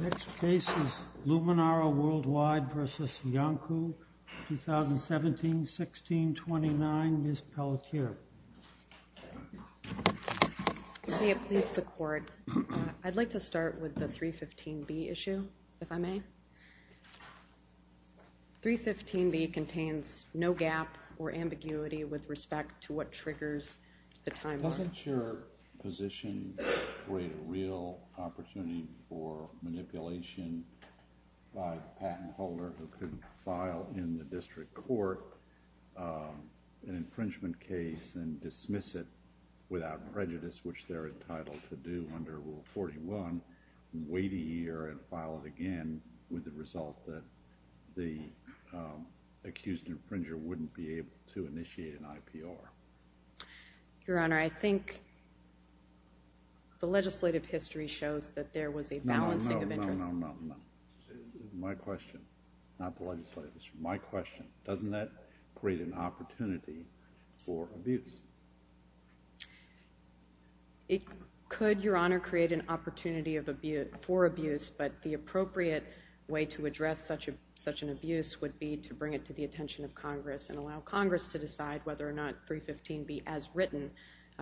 Next case is U2, U3, U4, U5, U6, U7, U8, U9, U10, U11, U12, U13, U14, U15, U16, U17, U18, Luminara Worldwide v. Yonkou, 2017-16-29, Ms. Pelletier. I'd like to start with the 315B issue, if I may. 315B contains no gap or ambiguity with respect to what triggers the time mark. Doesn't your position create a real opportunity for manipulation by the patent holder who could file in the district court an infringement case and dismiss it without prejudice, which they're entitled to do under Rule 41, wait a year, and file it again with the result that the accused infringer wouldn't be able to initiate an IPR? Your Honor, I think the legislative history shows that there was a balancing of interests. No, no, no, no, no, no. My question, not the legislative history, my question, doesn't that create an opportunity for abuse? It could, Your Honor, create an opportunity for abuse, but the appropriate way to address such an abuse would be to bring it to the attention of Congress and allow Congress to make the 315B as written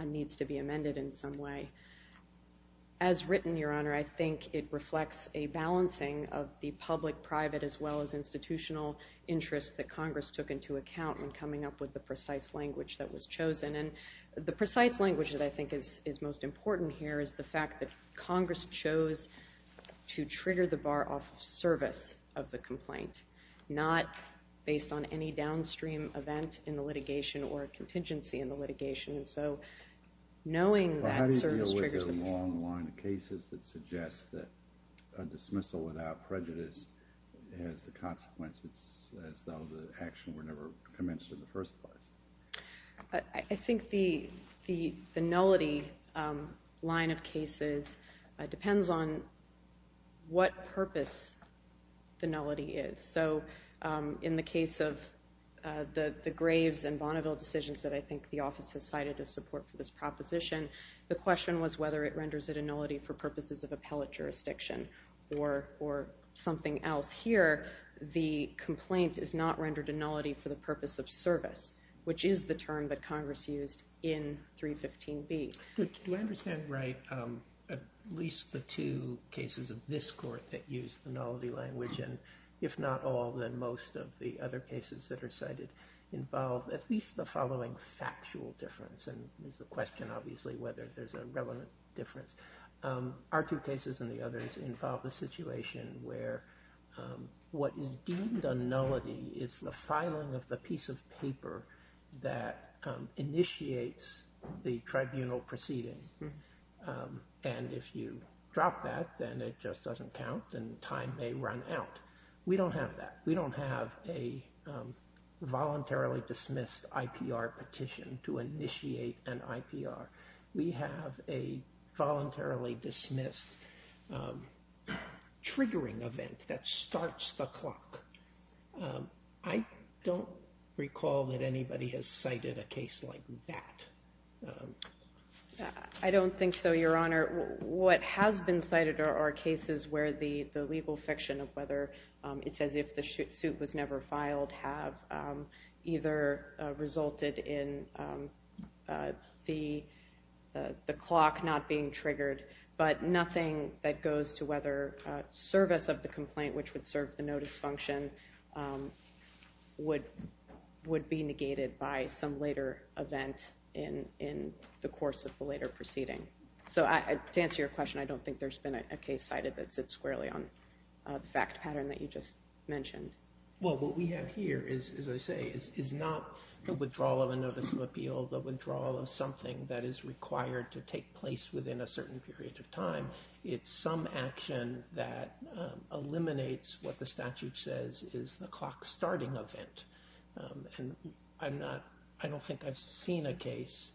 needs to be amended in some way. As written, Your Honor, I think it reflects a balancing of the public-private as well as institutional interests that Congress took into account when coming up with the precise language that was chosen. And the precise language that I think is most important here is the fact that Congress chose to trigger the bar off of service of the complaint, not based on any downstream event in the litigation or contingency in the litigation. So knowing that service triggers the complaint. Well, how do you deal with the long line of cases that suggest that a dismissal without prejudice has the consequence as though the action were never commenced in the first place? I think the nullity line of cases depends on what purpose the nullity is. So in the case of the Graves and Bonneville decisions that I think the office has cited as support for this proposition, the question was whether it renders it a nullity for purposes of appellate jurisdiction or something else. Here, the complaint is not rendered a nullity for the purpose of service, which is the term that Congress used in 315B. Do I understand right at least the two cases of this court that use the nullity language and if not all, then most of the other cases that are cited involve at least the following factual difference and there's a question obviously whether there's a relevant difference. Our two cases and the others involve the situation where what is deemed a nullity is the filing of the piece of paper that initiates the tribunal proceeding. And if you drop that, then it just doesn't count and time may run out. We don't have that. We don't have a voluntarily dismissed IPR petition to initiate an IPR. We have a voluntarily dismissed triggering event that starts the clock. I don't recall that anybody has cited a case like that. I don't think so, Your Honor. What has been cited are cases where the legal fiction of whether it's as if the suit was never filed have either resulted in the clock not being triggered, but nothing that goes to whether service of the complaint which would serve the notice function would be negated by some later event in the course of the later proceeding. So to answer your question, I don't think there's been a case cited that sits squarely on the fact pattern that you just mentioned. Well, what we have here is, as I say, is not the withdrawal of a notice of appeal, the withdrawal of something that is required to take place within a certain period of time. It's some action that eliminates what the statute says is the clock starting event. And I don't think I've seen a case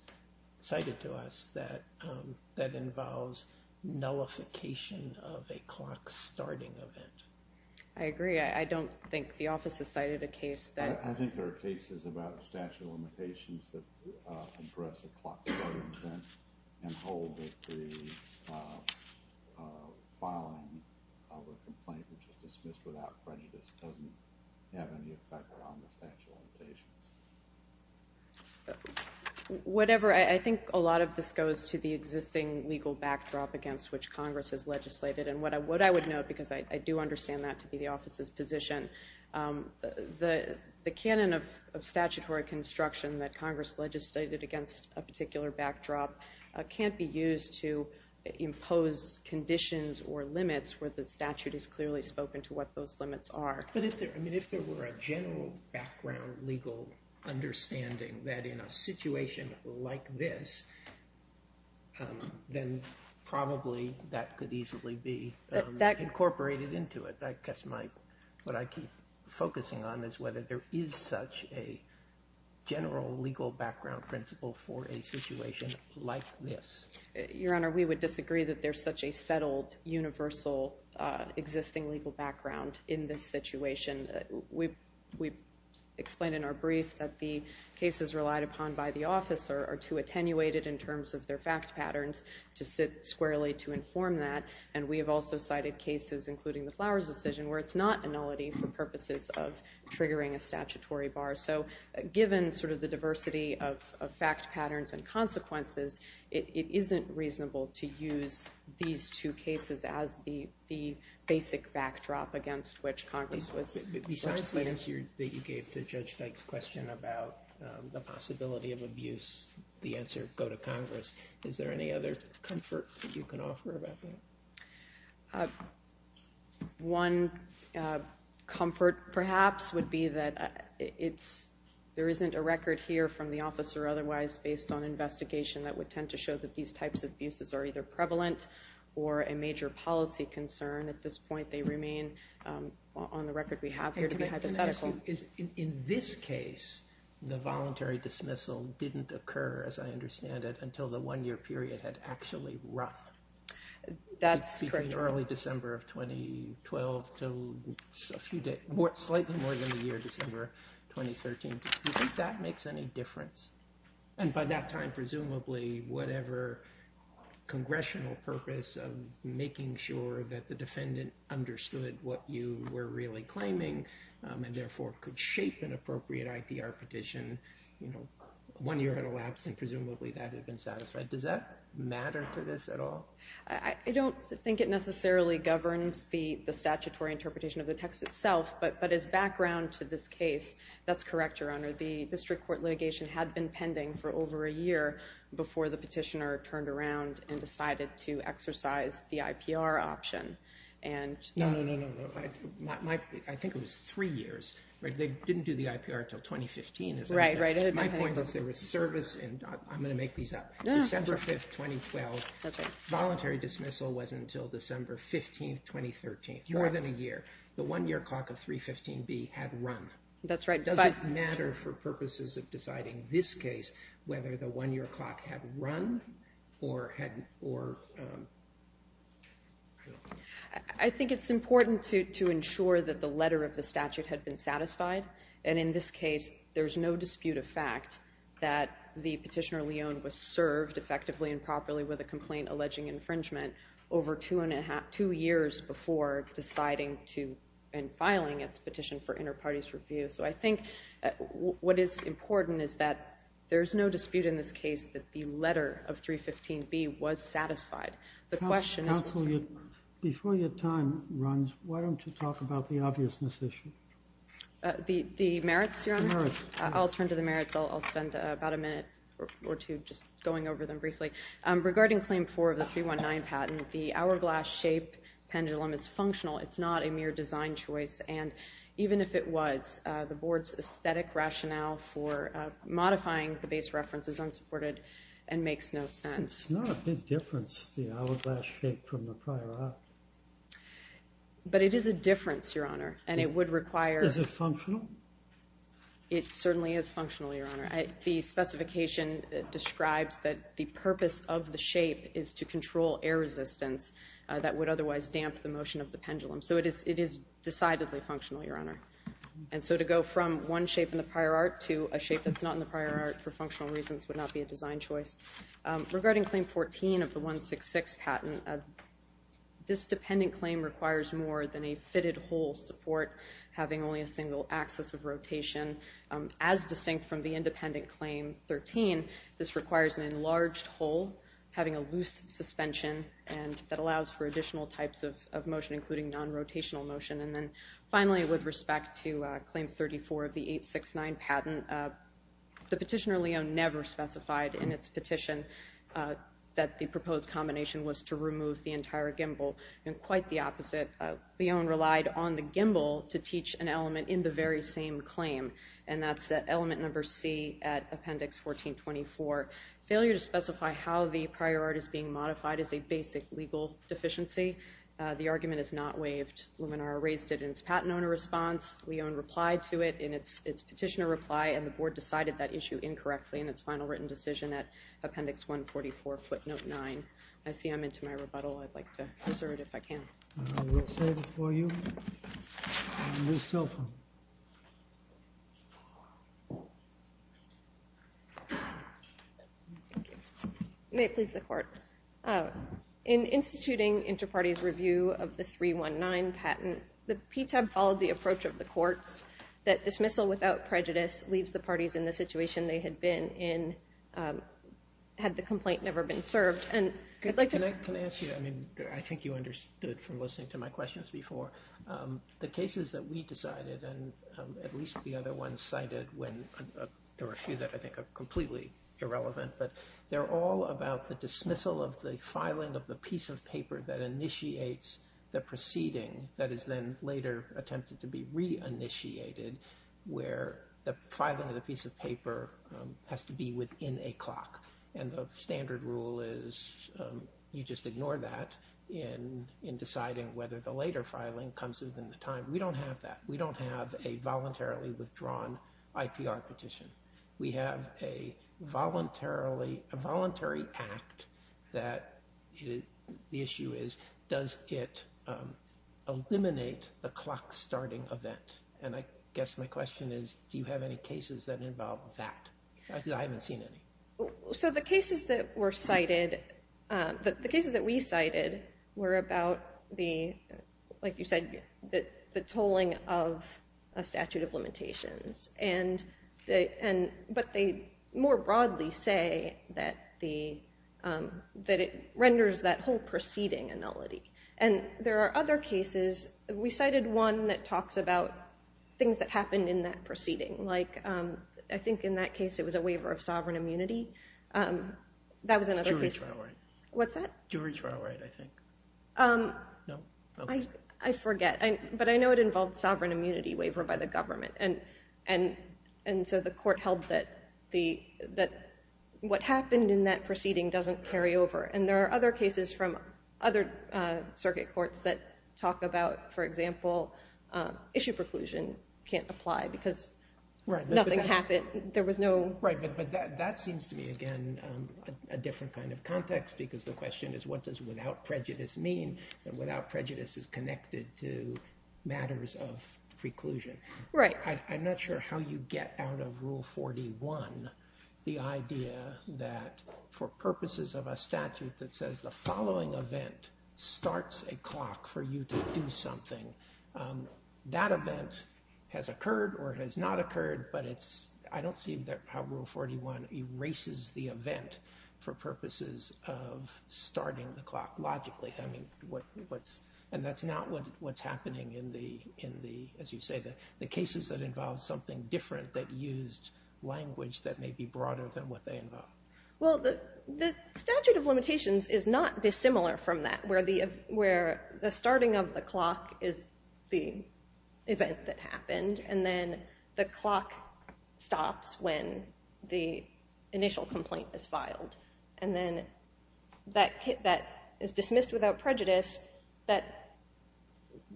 cited to us that involves nullification of a clock starting event. I agree. I don't think the office has cited a case that... I think there are cases about statute of limitations that address a clock starting event and hold that the filing of a complaint which is dismissed without prejudice doesn't have any effect on the statute of limitations. Whatever. I think a lot of this goes to the existing legal backdrop against which Congress has legislated. And what I would note, because I do understand that to be the office's position, the canon of statutory construction that Congress legislated against a particular backdrop can't be used to impose conditions or limits where the statute has clearly spoken to what those limits are. But if there were a general background legal understanding that in a situation like this, then probably that could easily be incorporated into it. I guess what I keep focusing on is whether there is such a general legal background principle for a situation like this. Your Honor, we would disagree that there's such a settled, universal, existing legal background in this situation. We explained in our brief that the cases relied upon by the office are too attenuated in terms of their fact patterns to sit squarely to inform that. And we have also cited cases, including the Flowers decision, where it's not a nullity for purposes of triggering a statutory bar. So given the diversity of fact patterns and consequences, it isn't reasonable to use these two cases as the basic backdrop against which Congress was. Besides the answer that you gave to Judge Dyke's question about the possibility of abuse, the answer, go to Congress, is there any other comfort that you can offer about that? One comfort, perhaps, would be that there isn't a record here from the office or otherwise based on investigation that would tend to show that these types of abuses are either prevalent or a major policy concern. At this point, they remain on the record we have here to be hypothetical. In this case, the voluntary dismissal didn't occur, as I understand it, until the one-year period had actually run. That's correct. Between early December of 2012 to slightly more than a year, December 2013. Do you think that makes any difference? And by that time, presumably, whatever congressional purpose of making sure that the defendant understood what you were really claiming and therefore could shape an appropriate IPR petition, one year had elapsed and presumably that had been satisfied. Does that matter to this at all? I don't think it necessarily governs the statutory interpretation of the text itself, but as background to this case, that's correct, Your Honor. The district court litigation had been pending for over a year before the petitioner turned around and decided to exercise the IPR option. No, no, no, no. I think it was three years. They didn't do the IPR until 2015. Right, right. My point is there was service, and I'm going to make these up. December 5, 2012. Voluntary dismissal was until December 15, 2013. More than a year. The one-year clock of 315B had run. That's right. Does it matter for purposes of deciding this case whether the one-year clock had run? I think it's important to ensure that the letter of the statute had been satisfied, and in this case there's no dispute of fact that the petitioner, Leone, was served effectively and properly with a complaint alleging infringement over two years before deciding and filing its petition for inter-parties review. So I think what is important is that there's no dispute in this case that the letter of 315B was satisfied. Counsel, before your time runs, why don't you talk about the obviousness issue? The merits, Your Honor? The merits. I'll turn to the merits. I'll spend about a minute or two just going over them briefly. Regarding Claim 4 of the 319 patent, the hourglass shape pendulum is functional. It's not a mere design choice, and even if it was, the Board's aesthetic rationale for modifying the base reference is unsupported and makes no sense. It's not a big difference, the hourglass shape, from the prior act. But it is a difference, Your Honor, and it would require – Is it functional? It certainly is functional, Your Honor. The specification describes that the purpose of the shape is to control air resistance that would otherwise damp the motion of the pendulum. So it is decidedly functional, Your Honor. And so to go from one shape in the prior art to a shape that's not in the prior art for functional reasons would not be a design choice. Regarding Claim 14 of the 166 patent, this dependent claim requires more than a fitted hole support, having only a single axis of rotation. As distinct from the independent Claim 13, this requires an enlarged hole, having a loose suspension, and that allows for additional types of motion, including non-rotational motion. And then finally, with respect to Claim 34 of the 869 patent, the petitioner, Leon, never specified in its petition that the proposed combination was to remove the entire gimbal, and quite the opposite. Leon relied on the gimbal to teach an element in the very same claim, and that's element number C at Appendix 1424. Failure to specify how the prior art is being modified is a basic legal deficiency. The argument is not waived. Luminar raised it in its patent owner response. Leon replied to it in its petitioner reply, and the Board decided that issue incorrectly in its final written decision at Appendix 144, footnote 9. I see I'm into my rebuttal. I'd like to preserve it if I can. I will save it for you. Your cell phone. May it please the Court. In instituting Interparties' review of the 319 patent, the PTAB followed the approach of the courts that dismissal without prejudice leaves the parties in the situation they had been in had the complaint never been served. Can I ask you, I think you understood from listening to my questions before, the cases that we decided, and at least the other ones cited, there were a few that I think are completely irrelevant, but they're all about the dismissal of the filing of the piece of paper that initiates the proceeding that is then later attempted to be re-initiated where the filing of the piece of paper has to be within a clock, and the standard rule is you just ignore that in deciding whether the later filing comes within the time. We don't have that. We don't have a voluntarily withdrawn IPR petition. We have a voluntary act that the issue is, does it eliminate the clock starting event? And I guess my question is, do you have any cases that involve that? I haven't seen any. So the cases that were cited, the cases that we cited, were about the, like you said, the tolling of a statute of limitations, but they more broadly say that it renders that whole proceeding a nullity, and there are other cases. We cited one that talks about things that happened in that proceeding, like I think in that case it was a waiver of sovereign immunity. That was another case. Jury trial right. What's that? Jury trial right, I think. No? I forget, but I know it involved sovereign immunity waiver by the government, and so the court held that what happened in that proceeding doesn't carry over, and there are other cases from other circuit courts that talk about, for example, issue preclusion can't apply because nothing happened. There was no. Right, but that seems to me, again, a different kind of context because the question is what does without prejudice mean, and without prejudice is connected to matters of preclusion. Right. I'm not sure how you get out of Rule 41 the idea that for purposes of a statute that says the following event starts a clock for you to do something, that event has occurred or has not occurred, but I don't see how Rule 41 erases the event for purposes of starting the clock logically, and that's not what's happening in the, as you say, the cases that involve something different that used language that may be broader than what they involve. Well, the statute of limitations is not dissimilar from that where the starting of the clock is the event that happened, and then the clock stops when the initial complaint is filed, and then that is dismissed without prejudice, that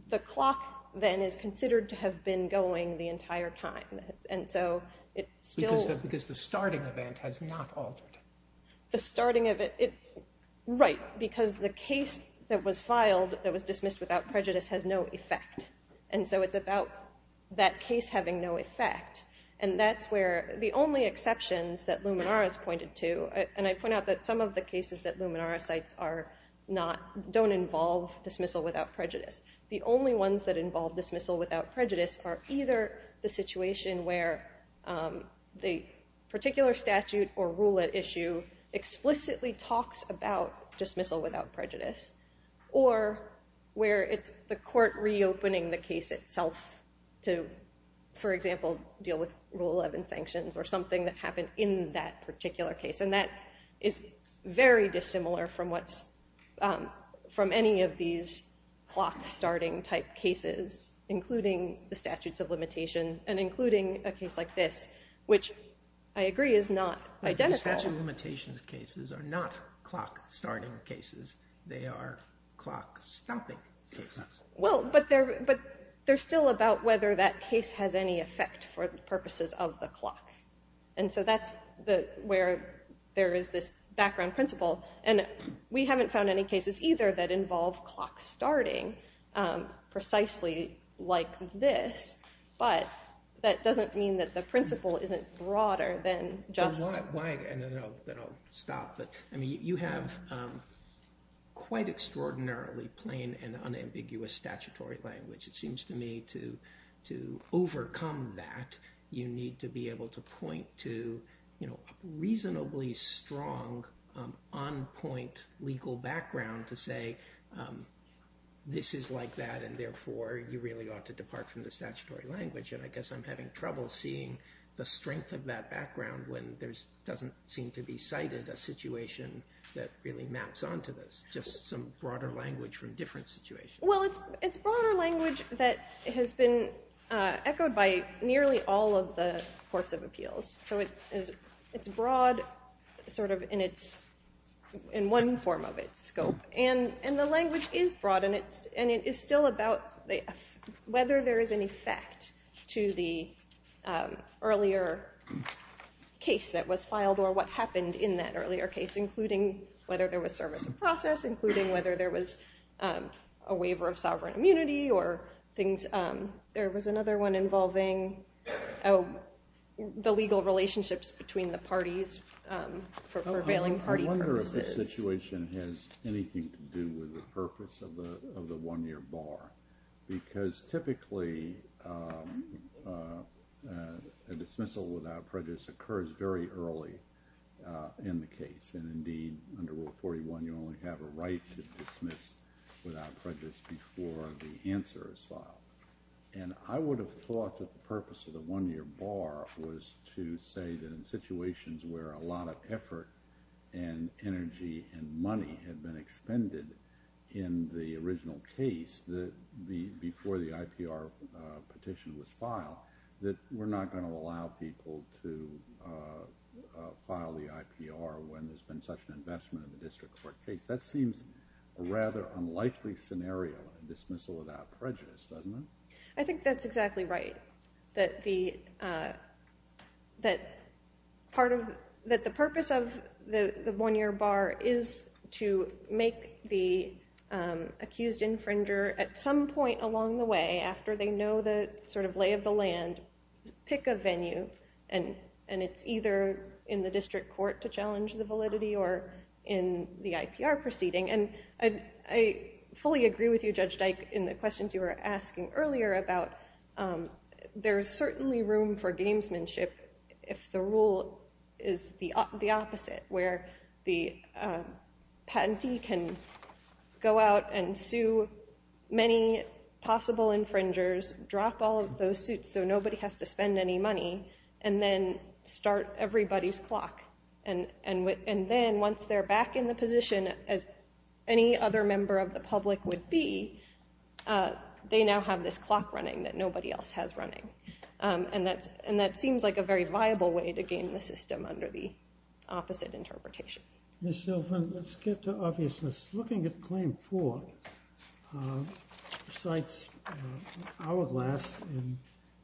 the clock then is considered to have been going the entire time, and so it still. Because the starting event has not altered. The starting event, right, because the case that was filed that was dismissed without prejudice has no effect, and so it's about that case having no effect, and that's where the only exceptions that Luminaris pointed to, and I point out that some of the cases that Luminaris cites don't involve dismissal without prejudice. The only ones that involve dismissal without prejudice are either the situation where the particular statute or rule at issue explicitly talks about dismissal without prejudice or where it's the court reopening the case itself to, for example, deal with Rule 11 sanctions or something that happened in that particular case, and that is very dissimilar from any of these clock-starting type cases, including the statutes of limitation and including a case like this, which I agree is not identical. The statute of limitations cases are not clock-starting cases. They are clock-stopping cases. Well, but they're still about whether that case has any effect for the purposes of the clock, and so that's where there is this background principle, and we haven't found any cases either that involve clock-starting precisely like this, but that doesn't mean that the principle isn't broader than just... Why? And then I'll stop. I mean, you have quite extraordinarily plain and unambiguous statutory language. It seems to me to overcome that, you need to be able to point to a reasonably strong on-point legal background to say this is like that, and therefore you really ought to depart from the statutory language, and I guess I'm having trouble seeing the strength of that background when there doesn't seem to be cited a situation that really maps onto this, just some broader language from different situations. Well, it's broader language that has been echoed by nearly all of the courts of appeals, so it's broad in one form of its scope, and the language is broad, and it is still about whether there is an effect to the earlier case that was filed or what happened in that earlier case, including whether there was service of process, including whether there was a waiver of sovereign immunity, or there was another one involving the legal relationships between the parties for prevailing party purposes. I wonder if this situation has anything to do with the purpose of the one-year bar, because typically a dismissal without prejudice occurs very early in the case, and indeed under Rule 41 you only have a right to dismiss without prejudice before the answer is filed, and I would have thought that the purpose of the one-year bar was to say that in situations where a lot of effort and energy and money had been expended in the original case before the IPR petition was filed, that we're not going to allow people to file the IPR when there's been such an investment in the district court case. That seems a rather unlikely scenario, a dismissal without prejudice, doesn't it? I think that's exactly right, that the purpose of the one-year bar is to make the accused infringer at some point along the way, after they know the lay of the land, pick a venue, and it's either in the district court to challenge the validity or in the IPR proceeding. And I fully agree with you, Judge Dyke, in the questions you were asking earlier about there's certainly room for gamesmanship if the rule is the opposite, where the patentee can go out and sue many possible infringers, drop all of those suits so nobody has to spend any money, and then start everybody's clock. And then once they're back in the position, as any other member of the public would be, they now have this clock running that nobody else has running. And that seems like a very viable way to game the system under the opposite interpretation. Ms. Silvan, let's get to obviousness. Looking at Claim 4, recites hourglass, and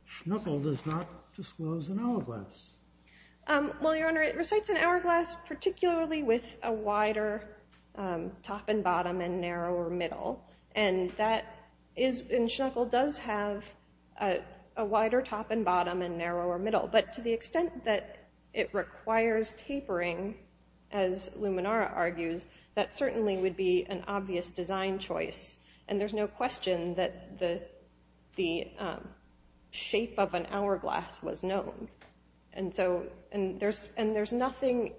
Schnuckel does not disclose an hourglass. Well, Your Honor, it recites an hourglass, particularly with a wider top and bottom and narrower middle. And Schnuckel does have a wider top and bottom and narrower middle. But to the extent that it requires tapering, as Luminara argues, that certainly would be an obvious design choice. And there's no question that the shape of an hourglass was known. And there's nothing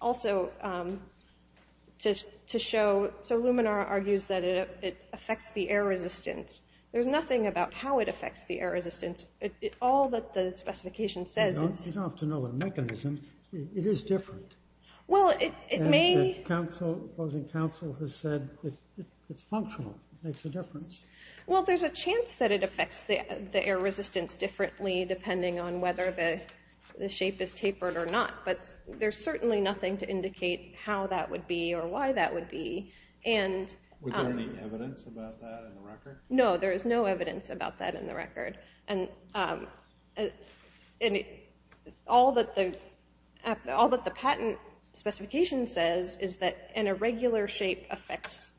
also to show, so Luminara argues that it affects the air resistance. There's nothing about how it affects the air resistance. All that the specification says is... You don't have to know the mechanism. It is different. Well, it may... The opposing counsel has said it's functional. It makes a difference. Well, there's a chance that it affects the air resistance differently depending on whether the shape is tapered or not. But there's certainly nothing to indicate how that would be or why that would be. Was there any evidence about that in the record? No, there is no evidence about that in the record. And all that the patent specification says is that an irregular shape affects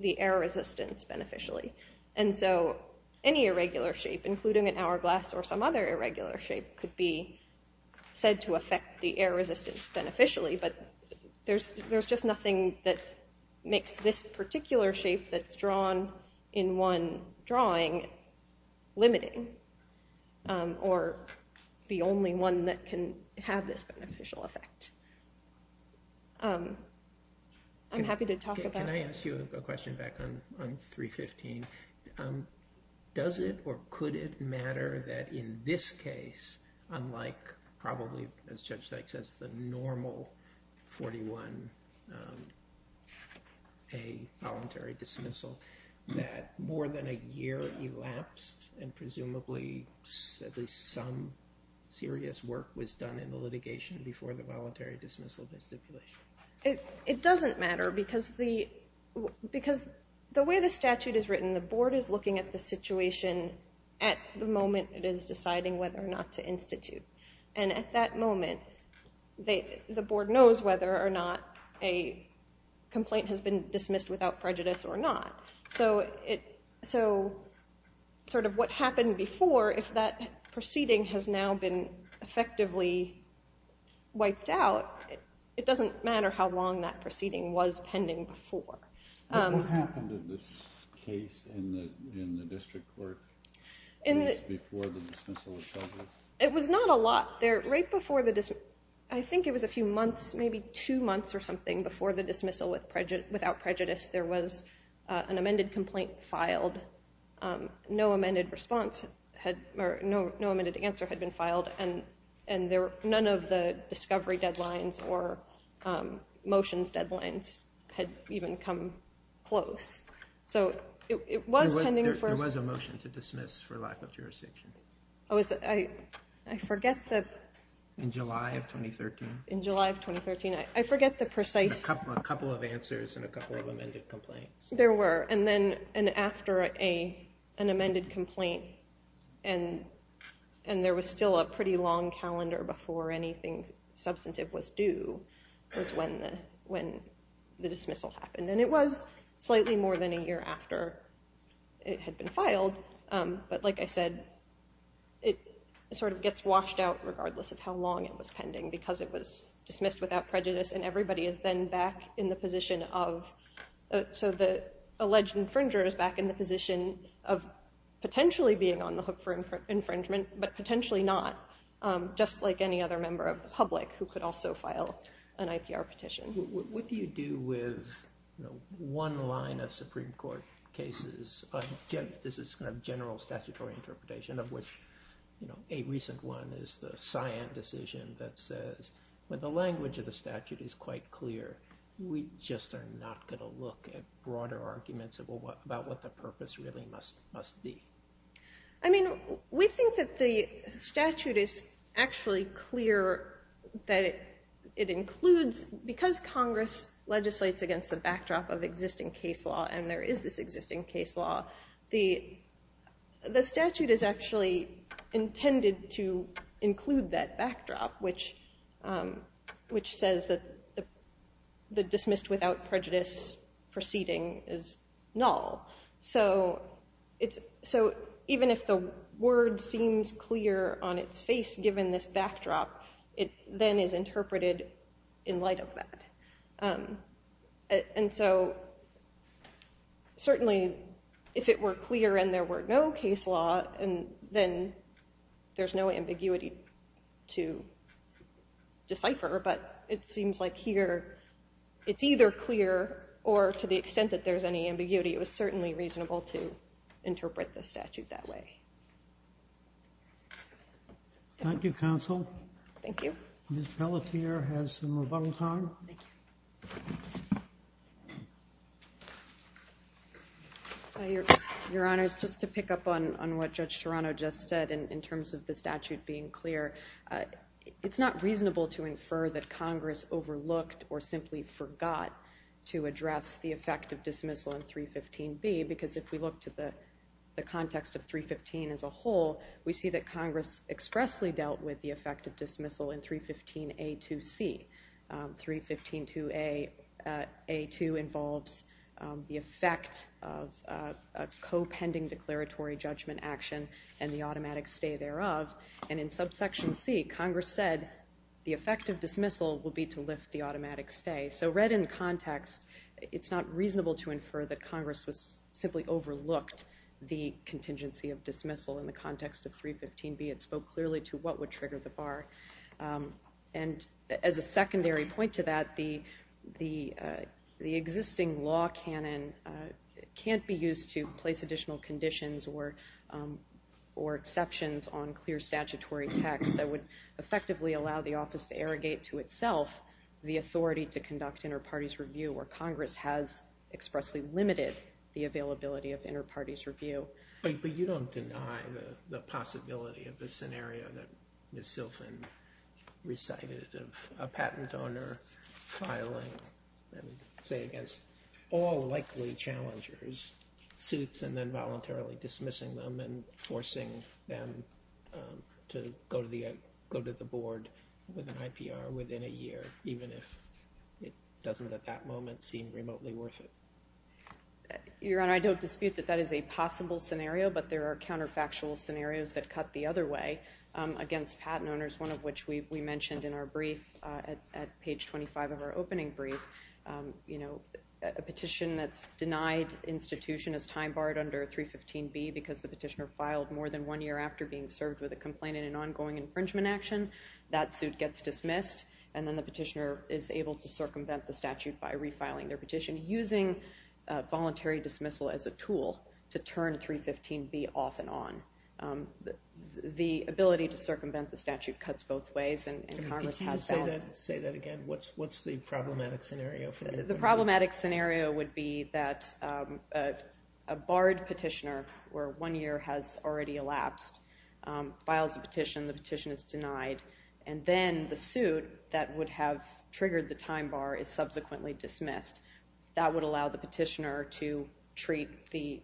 the air resistance beneficially. And so any irregular shape, including an hourglass or some other irregular shape, could be said to affect the air resistance beneficially. But there's just nothing that makes this particular shape that's drawn in one drawing limiting or the only one that can have this beneficial effect. I'm happy to talk about it. Can I ask you a question back on 315? Does it or could it matter that in this case, unlike probably, as Judge Sykes says, the normal 41A voluntary dismissal, that more than a year elapsed and presumably some serious work was done in the litigation before the voluntary dismissal of the stipulation? It doesn't matter because the way the statute is written, the board is looking at the situation at the moment it is deciding whether or not to institute. And at that moment, the board knows whether or not a complaint has been dismissed without prejudice or not. So sort of what happened before, if that proceeding has now been effectively wiped out, it doesn't matter how long that proceeding was pending before. But what happened in this case in the district court before the dismissal was published? It was not a lot there. I think it was a few months, maybe two months or something, before the dismissal without prejudice. There was an amended complaint filed. No amended answer had been filed and none of the discovery deadlines or motions deadlines had even come close. So it was pending. There was a motion to dismiss for lack of jurisdiction. I forget the... In July of 2013. In July of 2013. I forget the precise... A couple of answers and a couple of amended complaints. There were. And then after an amended complaint and there was still a pretty long calendar before anything substantive was due was when the dismissal happened. And it was slightly more than a year after it had been filed. But like I said, it sort of gets washed out regardless of how long it was pending because it was dismissed without prejudice and everybody is then back in the position of... So the alleged infringer is back in the position of potentially being on the hook for infringement but potentially not, just like any other member of the public who could also file an IPR petition. What do you do with one line of Supreme Court cases? This is kind of general statutory interpretation of which a recent one is the Scion decision that says when the language of the statute is quite clear we just are not going to look at broader arguments about what the purpose really must be. I mean, we think that the statute is actually clear that it includes... Because Congress legislates against the backdrop of existing case law and there is this existing case law, the statute is actually intended to include that backdrop which says that the dismissed without prejudice proceeding is null. So even if the word seems clear on its face given this backdrop, it then is interpreted in light of that. And so certainly if it were clear and there were no case law, then there's no ambiguity to decipher but it seems like here it's either clear or to the extent that there's any ambiguity it was certainly reasonable to interpret the statute that way. Thank you, counsel. Thank you. Ms. Pelletier has some rebuttal time. Thank you. Your Honor, just to pick up on what Judge Toronto just said in terms of the statute being clear, it's not reasonable to infer that Congress overlooked or simply forgot to address the effect of dismissal in 315B because if we look to the context of 315 as a whole we see that Congress expressly dealt with the effect of dismissal in 315A2C. 315A2 involves the effect of a co-pending declaratory judgment action and the automatic stay thereof. And in subsection C, Congress said the effect of dismissal will be to lift the automatic stay. So read in context, it's not reasonable to infer that Congress simply overlooked the contingency of dismissal. In the context of 315B, it spoke clearly to what would trigger the bar. And as a secondary point to that, the existing law canon can't be used to place additional conditions or exceptions on clear statutory text that would effectively allow the office to arrogate to itself the authority to conduct inter-parties review where Congress has expressly limited the availability of inter-parties review. But you don't deny the possibility of the scenario that Ms. Silfen recited of a patent owner filing, let's say against all likely challengers, suits and then voluntarily dismissing them and forcing them to go to the board with an IPR within a year even if it doesn't at that moment seem remotely worth it. Your Honor, I don't dispute that that is a possible scenario, but there are counterfactual scenarios that cut the other way against patent owners, one of which we mentioned in our brief at page 25 of our opening brief. A petition that's denied institution is time-barred under 315B because the petitioner filed more than one year after being served with a complaint in an ongoing infringement action. That suit gets dismissed, and then the petitioner is able to circumvent the statute by refiling their petition and using voluntary dismissal as a tool to turn 315B off and on. The ability to circumvent the statute cuts both ways, and Congress has balanced... Say that again. What's the problematic scenario? The problematic scenario would be that a barred petitioner where one year has already elapsed files a petition, the petition is denied, and then the suit that would have triggered the time bar is subsequently dismissed. That would allow the petitioner to treat the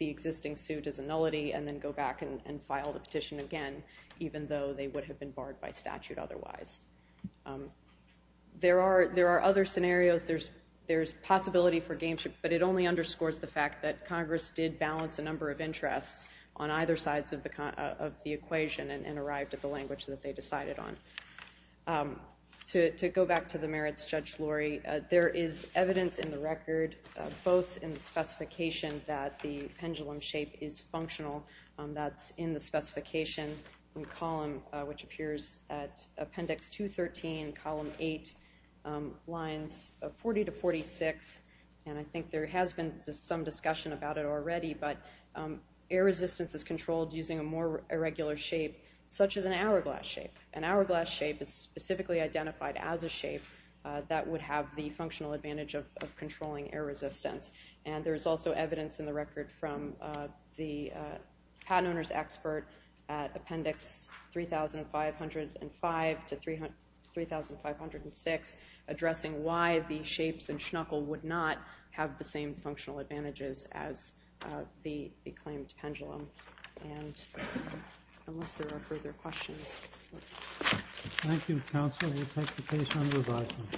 existing suit as a nullity and then go back and file the petition again, even though they would have been barred by statute otherwise. There are other scenarios. There's possibility for gameship, but it only underscores the fact that Congress did balance a number of interests on either sides of the equation and arrived at the language that they decided on. To go back to the merits, Judge Lori, there is evidence in the record, both in the specification that the pendulum shape is functional. That's in the specification column, which appears at Appendix 213, Column 8, lines 40 to 46, and I think there has been some discussion about it already, but air resistance is controlled using a more irregular shape, such as an hourglass shape. An hourglass shape is specifically identified as a shape that would have the functional advantage of controlling air resistance. And there is also evidence in the record from the patent owner's expert at Appendix 3,505 to 3,506 addressing why the shapes in Schnuckel would not have the same functional advantages as the claimed pendulum. And unless there are further questions. Thank you, Counsel. We'll take the case under revising.